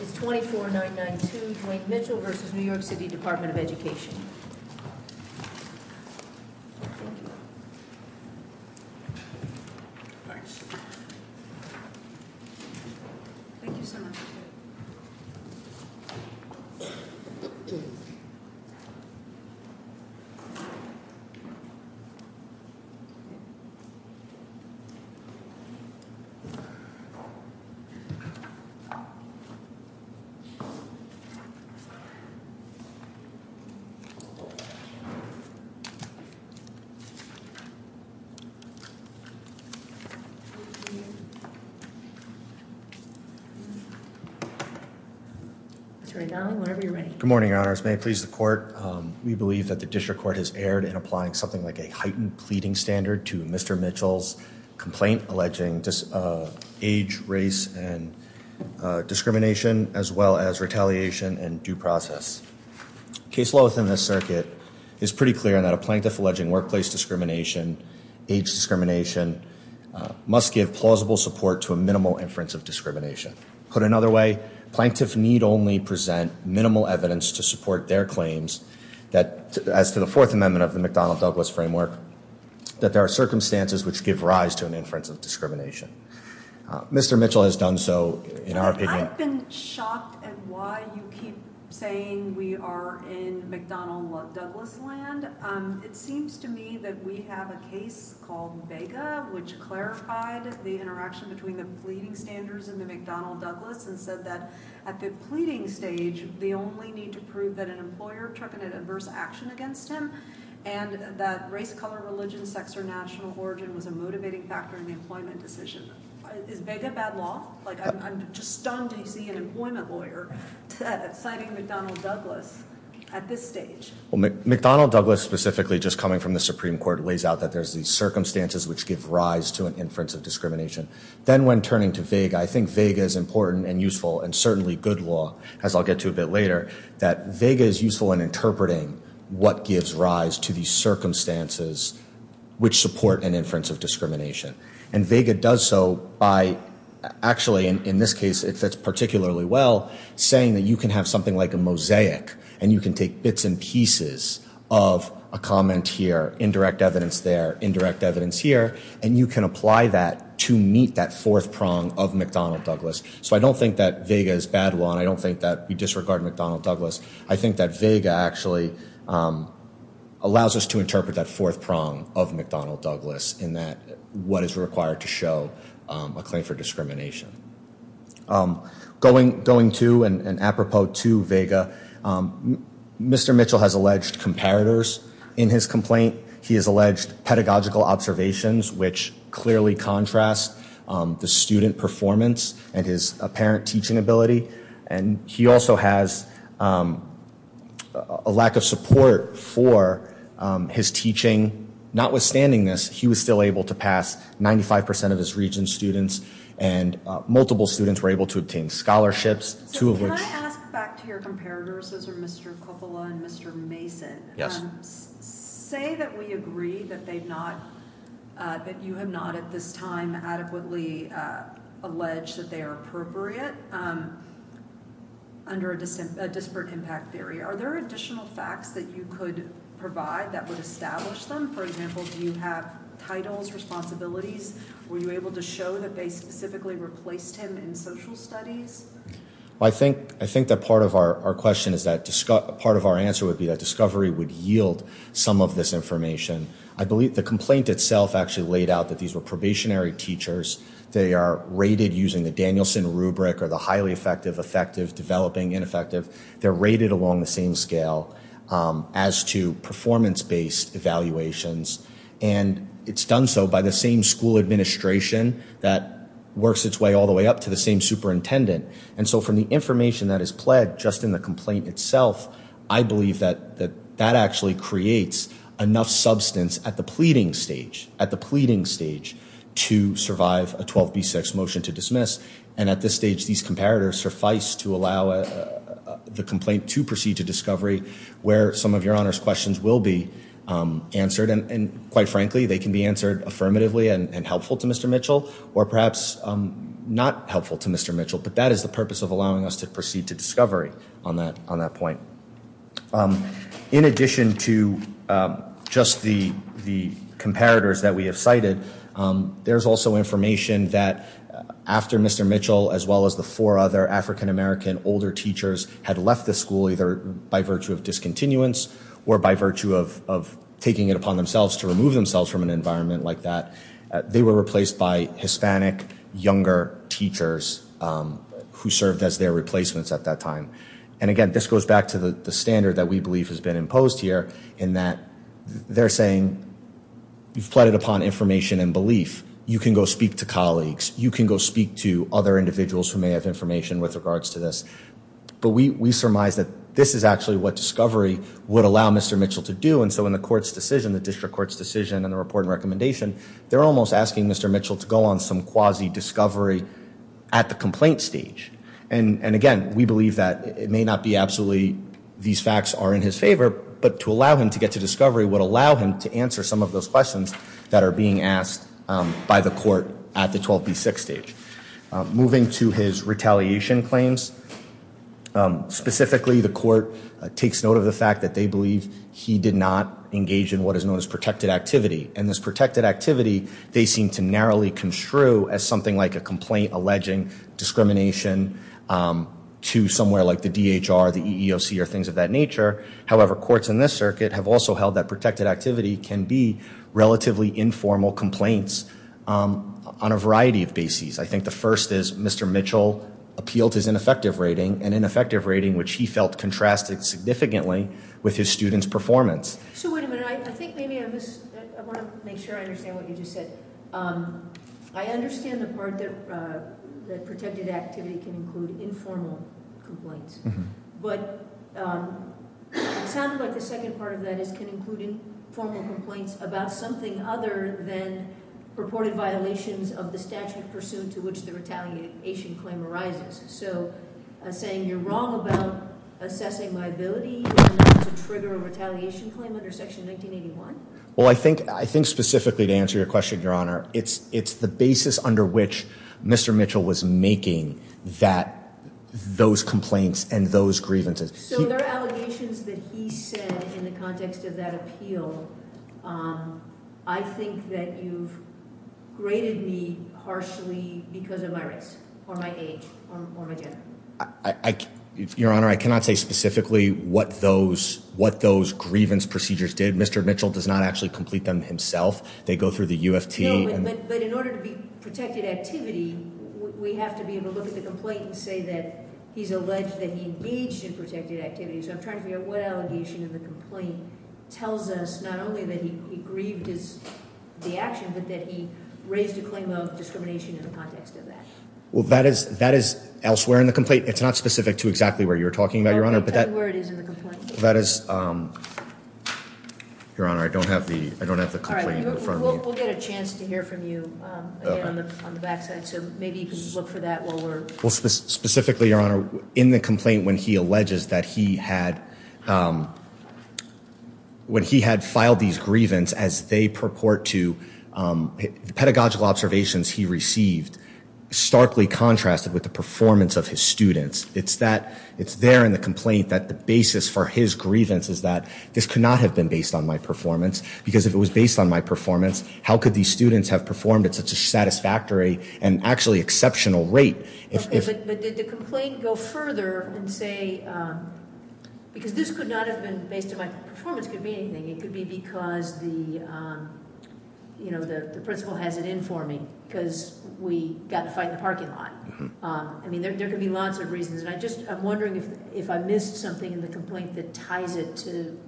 It's 24992 Dwayne Mitchell v. New York City Department of Education. Thank you. Thanks. Thank you so much. Good morning, Your Honors. May it please the court, we believe that the district court has erred in applying something like a heightened pleading standard to Mr. Mitchell's complaint alleging age, race, and discrimination as well as retaliation and due process. Case law within this circuit is pretty clear in that a plaintiff alleging workplace discrimination, age discrimination, must give plausible support to a minimal inference of discrimination. Put another way, plaintiffs need only present minimal evidence to support their claims that as to the Fourth Amendment of the McDonnell-Douglas framework, that there are circumstances which give rise to an inference of discrimination. Mr. Mitchell has done so in our opinion. I've been shocked at why you keep saying we are in McDonnell-Douglas land. It seems to me that we have a case called Vega which clarified the interaction between the pleading standards and the McDonnell-Douglas and said that at the pleading stage, the only need to prove that an employer took an adverse action against him and that race, color, religion, sex, or national origin was a motivating factor in the employment decision. Is Vega bad law? Like I'm just stunned to see an employment lawyer citing McDonnell-Douglas at this stage. Well, McDonnell-Douglas specifically just coming from the Supreme Court weighs out that there's these circumstances which give rise to an inference of discrimination. Then when turning to Vega, I think Vega is important and useful and certainly good law as I'll get to a bit later, that Vega is useful in interpreting what gives rise to these circumstances which support an inference of discrimination. And Vega does so by actually in this case, it fits particularly well saying that you can have something like a mosaic and you can take bits and pieces of a comment here, indirect evidence there, indirect evidence here, and you can apply that to meet that fourth prong of McDonnell-Douglas. So I don't think that Vega is bad law and I don't think that we disregard McDonnell-Douglas. I think that Vega actually allows us to interpret that fourth prong of McDonnell-Douglas in that what is required to show a claim for discrimination. Going to and apropos to Vega, Mr. Mitchell has alleged comparators in his complaint. He has alleged pedagogical observations which clearly contrast the student performance and his apparent teaching ability. And he also has a lack of support for his teaching. Notwithstanding this, he was still able to pass 95% of his region's students and multiple students were able to obtain scholarships, two of which. So can I ask back to your comparators, those are Mr. Coppola and Mr. Mason. Yes. Say that we agree that they've not, that you have not at this time adequately alleged that they are appropriate under a disparate impact theory. Are there additional facts that you could provide that would establish them? For example, do you have titles, responsibilities? Were you able to show that they specifically replaced him in social studies? I think that part of our question is that part of our answer would be that discovery would yield some of this information. I believe the complaint itself actually laid out that these were probationary teachers. They are rated using the Danielson rubric or the highly effective, effective, developing, They're rated along the same scale as to performance-based evaluations. And it's done so by the same school administration that works its way all the way up to the same superintendent. And so from the information that is pledged just in the complaint itself, I believe that that actually creates enough substance at the pleading stage, at the pleading stage to survive a 12B6 motion to dismiss. And at this stage, these comparators suffice to allow the complaint to proceed to discovery where some of your Honor's questions will be answered. And quite frankly, they can be answered affirmatively and helpful to Mr. Mitchell, or perhaps not helpful to Mr. Mitchell. But that is the purpose of allowing us to proceed to discovery on that point. In addition to just the comparators that we have cited, there's also information that after Mr. Mitchell, as well as the four other African-American older teachers, had left the school either by virtue of discontinuance or by virtue of taking it upon themselves to remove themselves from an environment like that, they were replaced by Hispanic younger teachers who served as their replacements at that time. And again, this goes back to the standard that we believe has been imposed here, in that they're saying, you've pleaded upon information and belief. You can go speak to colleagues. You can go speak to other individuals who may have information with regards to this. But we surmise that this is actually what discovery would allow Mr. Mitchell to do. And so in the court's decision, the district court's decision, and the report and recommendation, they're almost asking Mr. Mitchell to go on some quasi-discovery at the complaint stage. And again, we believe that it may not be absolutely these facts are in his favor, but to allow him to get to discovery would allow him to answer some of those questions that are being asked by the court at the 12B6 stage. Moving to his retaliation claims. Specifically, the court takes note of the fact that they believe he did not engage in what is known as protected activity. And this protected activity, they seem to narrowly construe as something like a complaint alleging discrimination to somewhere like the DHR, the EEOC, or things of that nature. However, courts in this circuit have also held that protected activity can be relatively informal complaints on a variety of bases. I think the first is Mr. Mitchell appealed his ineffective rating, an ineffective rating which he felt contrasted significantly with his student's performance. So wait a minute. I think maybe I want to make sure I understand what you just said. I understand the part that protected activity can include informal complaints. But it sounded like the second part of that is can include informal complaints about something other than purported violations of the statute pursued to which the retaliation claim arises. So saying you're wrong about assessing my ability to trigger a retaliation claim under Section 1981? Well, I think specifically to answer your question, Your Honor, it's the basis under which Mr. Mitchell was making those complaints and those grievances. So there are allegations that he said in the context of that appeal, I think that you've graded me harshly because of my race, or my age, or my gender. Your Honor, I cannot say specifically what those grievance procedures did. Mr. Mitchell does not actually complete them himself. They go through the UFT. But in order to be protected activity, we have to be able to look at the complaint and say that he's alleged that he engaged in protected activity. So I'm trying to figure out what allegation in the complaint tells us not only that he grieved the action, but that he raised a claim of discrimination in the context of that. Well, that is elsewhere in the complaint. It's not specific to exactly where you're talking about, Your Honor. No, it's everywhere it is in the complaint. That is, Your Honor, I don't have the complaint in front of me. We'll get a chance to hear from you again on the back side. So maybe you can look for that while we're... Well, specifically, Your Honor, in the complaint, when he alleges that he had filed these grievance as they purport to pedagogical observations he received, starkly contrasted with the performance of his students. It's there in the complaint that the basis for his grievance is that this could not have been based on my performance. Because if it was based on my performance, how could these students have performed at such a satisfactory and actually exceptional rate? But did the complaint go further and say, because this could not have been based on my performance, could mean anything. It could be because the principal has it in for me. Because we got to find the parking lot. I mean, there could be lots of reasons. And I'm wondering if I missed something in the complaint that ties it to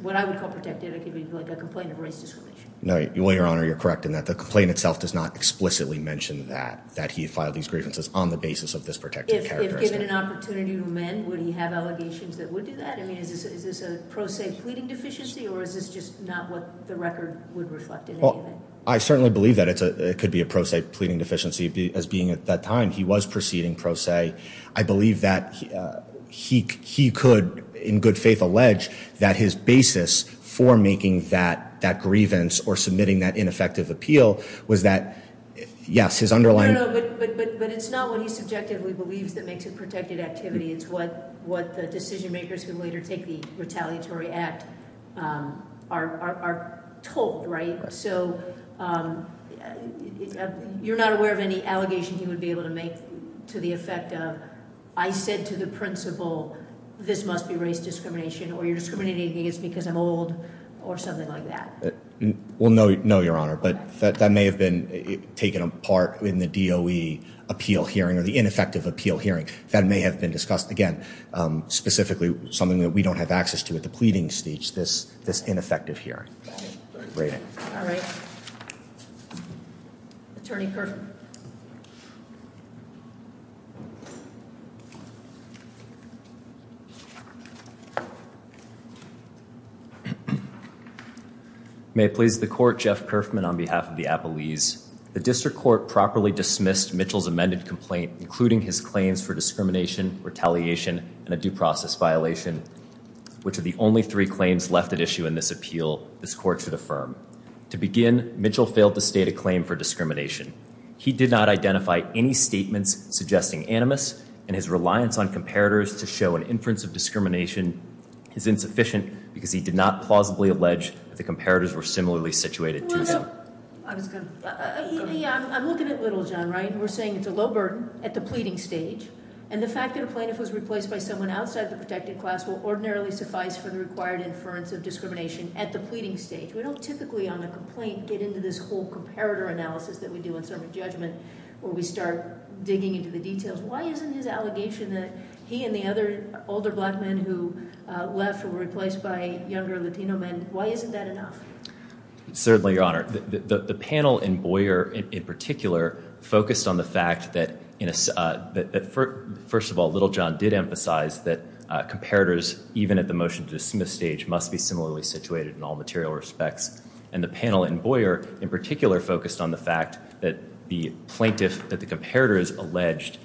what I would call protective. It could be like a complaint of race discrimination. No, Your Honor, you're correct in that. The complaint itself does not explicitly mention that he filed these grievances on the basis of this protective characteristic. If given an opportunity to amend, would he have allegations that would do that? I mean, is this a pro se pleading deficiency or is this just not what the record would reflect in any event? I certainly believe that it could be a pro se pleading deficiency as being at that time. He was proceeding pro se. I believe that he could, in good faith, allege that his basis for making that grievance or submitting that ineffective appeal was that, yes, his underlying- No, no, no, but it's not what he subjectively believes that makes it protected activity. It's what the decision makers who later take the retaliatory act are told, right? So you're not aware of any allegations he would be able to make to the effect of, I said to the principal, this must be race discrimination or you're discriminating against me because I'm old or something like that? Well, no, Your Honor, but that may have been taken apart in the DOE appeal hearing or the ineffective appeal hearing. That may have been discussed, again, specifically something that we don't have access to at the pleading stage, this ineffective hearing. Right, all right. Attorney Kerfman. May it please the court, Jeff Kerfman, on behalf of the Appalese. The district court properly dismissed Mitchell's amended complaint, including his claims for discrimination, retaliation, and a due process violation, which are the only three claims left at issue in this appeal. This court should affirm. To begin, Mitchell failed to state a claim for discrimination. He did not identify any statements suggesting animus and his reliance on comparators to show an inference of discrimination is insufficient because he did not plausibly allege that the comparators were similarly situated. No, no, no, I was gonna... Yeah, I'm looking at little, John, right? We're saying it's a low burden at the pleading stage and the fact that a plaintiff was replaced by someone outside the protected class will ordinarily suffice for the required inference of discrimination at the pleading stage. We don't typically, on a complaint, get into this whole comparator analysis that we do in certain judgment where we start digging into the details. Why isn't his allegation that he and the other older black men who left were replaced by younger Latino men, why isn't that enough? It's certainly, Your Honor. The panel in Boyer, in particular, focused on the fact that, first of all, little John did emphasize that comparators, even at the motion to dismiss stage, must be similarly situated in all material respects. And the panel in Boyer, in particular, focused on the fact that the plaintiff, that the comparator is alleged,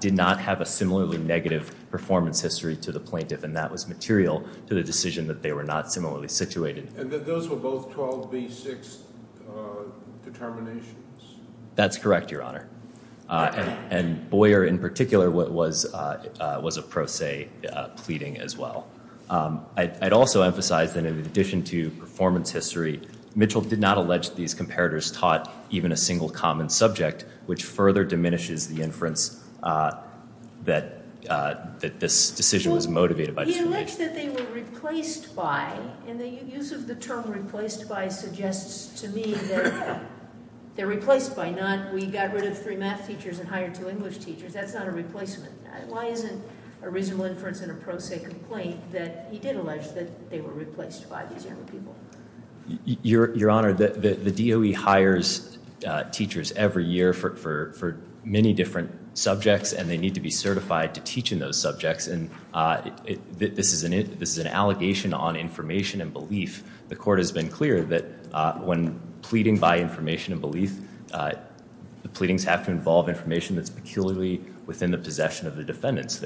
did not have a similarly negative performance history to the plaintiff and that was material to the decision that they were not similarly situated. And that those were both 12B6 determinations? That's correct, Your Honor. And Boyer, in particular, was a pro se pleading as well. I'd also emphasize that, in addition to performance history, Mitchell did not allege that these comparators taught even a single common subject, which further diminishes the inference that this decision was motivated by. He alleged that they were replaced by, and the use of the term replaced by suggests to me that they're replaced by, not we got rid of three math teachers and hired two English teachers. That's not a replacement. Why isn't a reasonable inference in a pro se complaint that he did allege that they were replaced by these young people? Your Honor, the DOE hires teachers every year for many different subjects and they need to be certified to teach in those subjects. And this is an allegation on information and belief. The court has been clear that when pleading by information and belief, the pleadings have to involve information that's peculiarly within the possession of the defendants.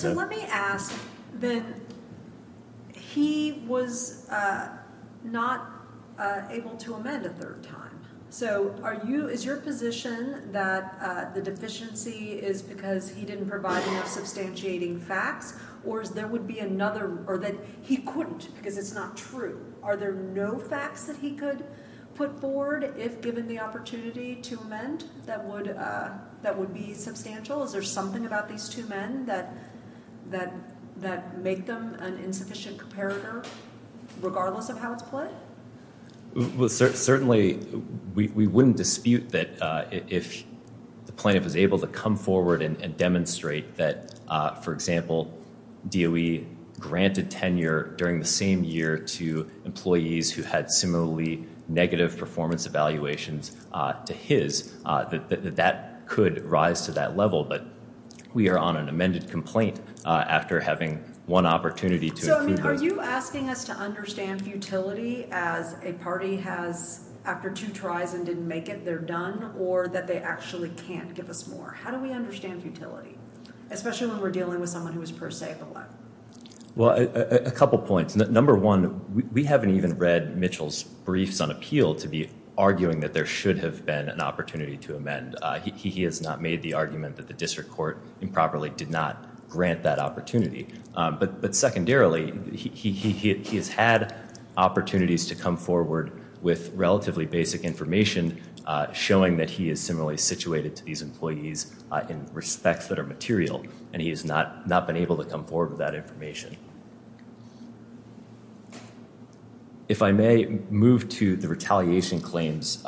So let me ask then, he was not able to amend a third time. Is your position that the deficiency is because he didn't provide enough substantiating facts or that he couldn't because it's not true? Are there no facts that he could put forward if given the opportunity to amend that would be substantial? Is there something about these two men that make them an insufficient comparator regardless of how it's played? Well, certainly we wouldn't dispute that if the plaintiff was able to come forward and demonstrate that, for example, DOE granted tenure during the same year to employees who had similarly negative performance evaluations to his, that could rise to that level. But we are on an amended complaint after having one opportunity. So I mean, are you asking us to understand futility as a party has after two tries and didn't make it, they're done or that they actually can't give us more? How do we understand futility, especially when we're dealing with someone who was per se the one? Well, a couple of points. Number one, we haven't even read Mitchell's briefs on appeal to be arguing that there should have been an opportunity to amend. He has not made the argument that the district court improperly did not grant that opportunity. But secondarily, he has had opportunities to come forward with relatively basic information showing that he is similarly situated to these employees in respects that are material. And he has not been able to come forward with that information. If I may move to the retaliation claims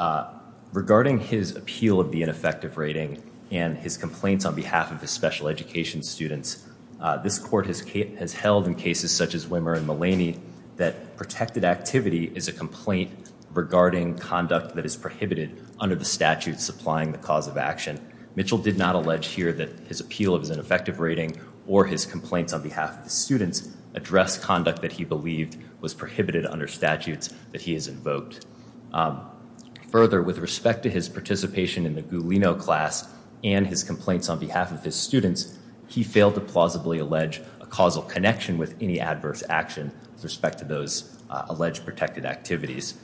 regarding his appeal of the ineffective rating and his complaints on behalf of his special education students. This court has held in cases such as Wimmer and Mullaney that protected activity is a complaint regarding conduct that is prohibited under the statute supplying the cause of action. Mitchell did not allege here that his appeal of his ineffective rating or his complaints on behalf of the students address conduct that he believed was prohibited under statutes that he has invoked. Further, with respect to his participation in the Gulino class and his complaints on behalf of his students, he failed to plausibly allege a causal connection with any adverse action with respect to those alleged protected activities.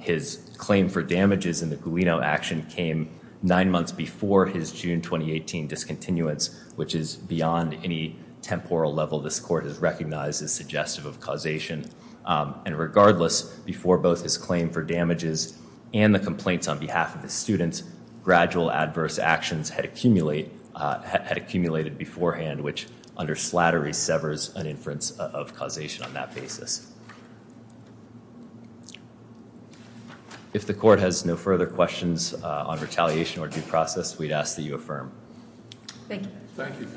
His claim for damages in the Gulino action came nine months before his June 2018 discontinuance, which is beyond any temporal level this court has recognized as suggestive of causation. And regardless, before both his claim for damages and the complaints on behalf of the students, gradual adverse actions had accumulated beforehand, which under slattery severs an inference of causation on that basis. If the court has no further questions on retaliation or due process, we'd ask that you affirm. Thank you. Thank you.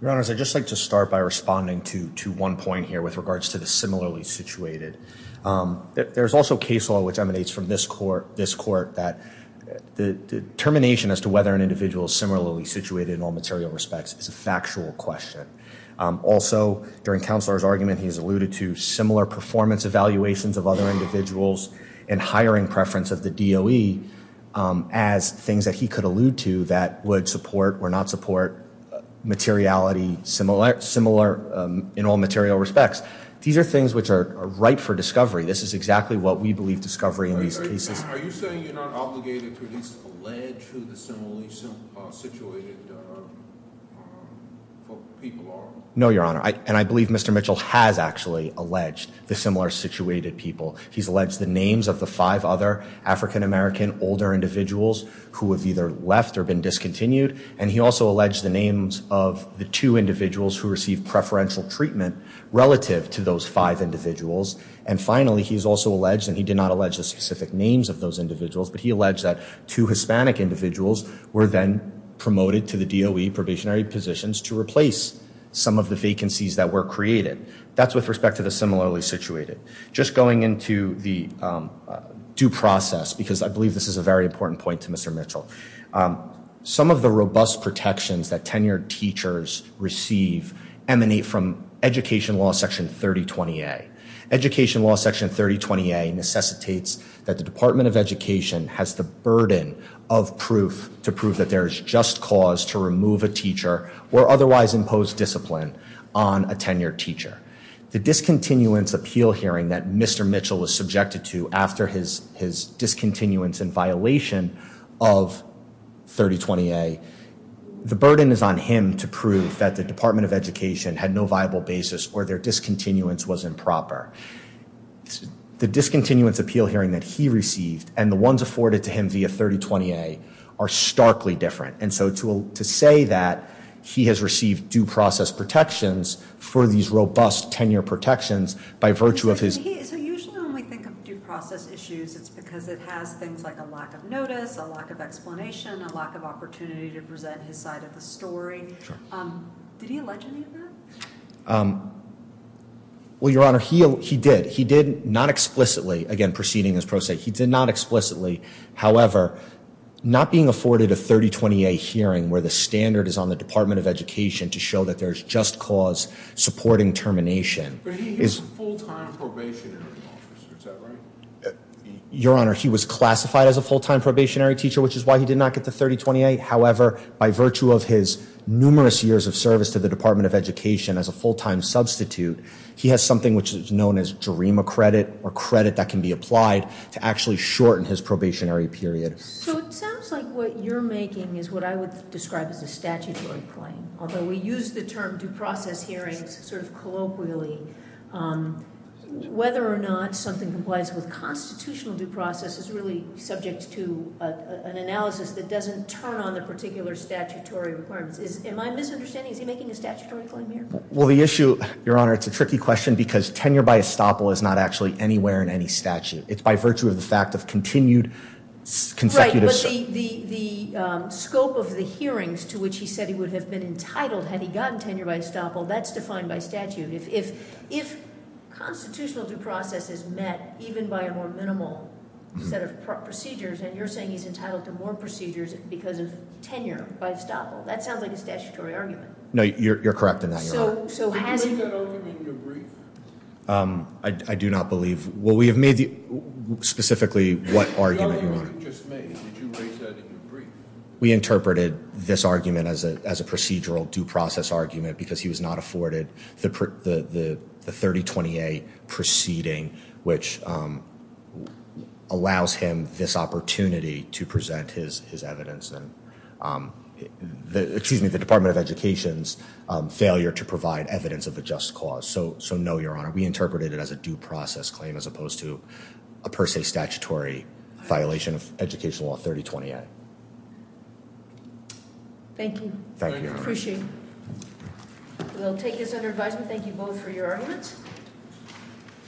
Your Honor, I'd just like to start by responding to one point here with regards to the similarly situated. There's also case law which emanates from this court that the determination as to whether an individual is similarly situated in all material respects is a factual question. Also, during Counselor's argument, he has alluded to similar performance evaluations of other individuals and hiring preference of the DOE as things that he could allude to that would support or not support materiality similar in all material respects. These are things which are ripe for discovery. This is exactly what we believe discovery in these cases. Are you saying you're not obligated to at least allege who the similarly situated people are? No, Your Honor. And I believe Mr. Mitchell has actually alleged the similar situated people. He's alleged the names of the five other African-American older individuals who have either left or been discontinued. And he also alleged the names of the two individuals who received preferential treatment relative to those five individuals. And finally, he's also alleged, and he did not allege the specific names of those individuals, but he alleged that two Hispanic individuals were then promoted to the DOE probationary positions to replace some of the vacancies that were created. That's with respect to the similarly situated. Just going into the due process, because I believe this is a very important point to Mr. Mitchell. Some of the robust protections that tenured teachers receive emanate from Education Law Section 3020A. Education Law Section 3020A necessitates that the Department of Education has the burden of proof to prove that there is just cause to remove a teacher or otherwise impose discipline on a tenured teacher. The discontinuance appeal hearing that Mr. Mitchell was subjected to after his discontinuance in violation of 3020A, the burden is on him to prove that the Department of Education had no viable basis or their discontinuance was improper. The discontinuance appeal hearing that he received and the ones afforded to him via 3020A are starkly different. And so to say that he has received due process protections for these robust tenure protections by virtue of his. So usually when we think of due process issues, it's because it has things like a lack of notice, a lack of explanation, a lack of opportunity to present his side of the story. Did he allege any of that? Well, Your Honor, he did. He did not explicitly. Again, proceeding as pro se, he did not explicitly. not being afforded a 3020A hearing where the standard is on the Department of Education to show that there's just cause supporting termination. But he was full-time probationary officer, is that right? Your Honor, he was classified as a full-time probationary teacher, which is why he did not get the 3020A. However, by virtue of his numerous years of service to the Department of Education as a full-time substitute, he has something which is known as JARIMA credit or credit that can be applied to actually shorten his probationary period. So it sounds like what you're making is what I would describe as a statutory claim. Although we use the term due process hearings sort of colloquially, whether or not something complies with constitutional due process is really subject to an analysis that doesn't turn on the particular statutory requirements. Am I misunderstanding? Is he making a statutory claim here? Well, the issue, Your Honor, it's a tricky question because tenure by estoppel is not actually anywhere in any statute. It's by virtue of the fact of continued consecutive- Right, but the scope of the hearings to which he said he would have been entitled had he gotten tenure by estoppel, that's defined by statute. If constitutional due process is met even by a more minimal set of procedures and you're saying he's entitled to more procedures because of tenure by estoppel, that sounds like a statutory argument. No, you're correct in that, Your Honor. So has he- Did you raise that argument in your brief? I do not believe- Well, we have made the- Specifically, what argument? The argument you just made. Did you raise that in your brief? We interpreted this argument as a procedural due process argument because he was not afforded the 3020A proceeding, which allows him this opportunity to present his evidence and the Department of Education's failure to provide evidence of a just cause. So no, Your Honor. We interpreted it as a due process claim as opposed to a per se statutory violation of educational law 3020A. Thank you. Thank you, Your Honor. I appreciate it. We'll take this under advisement. Thank you both for your arguments.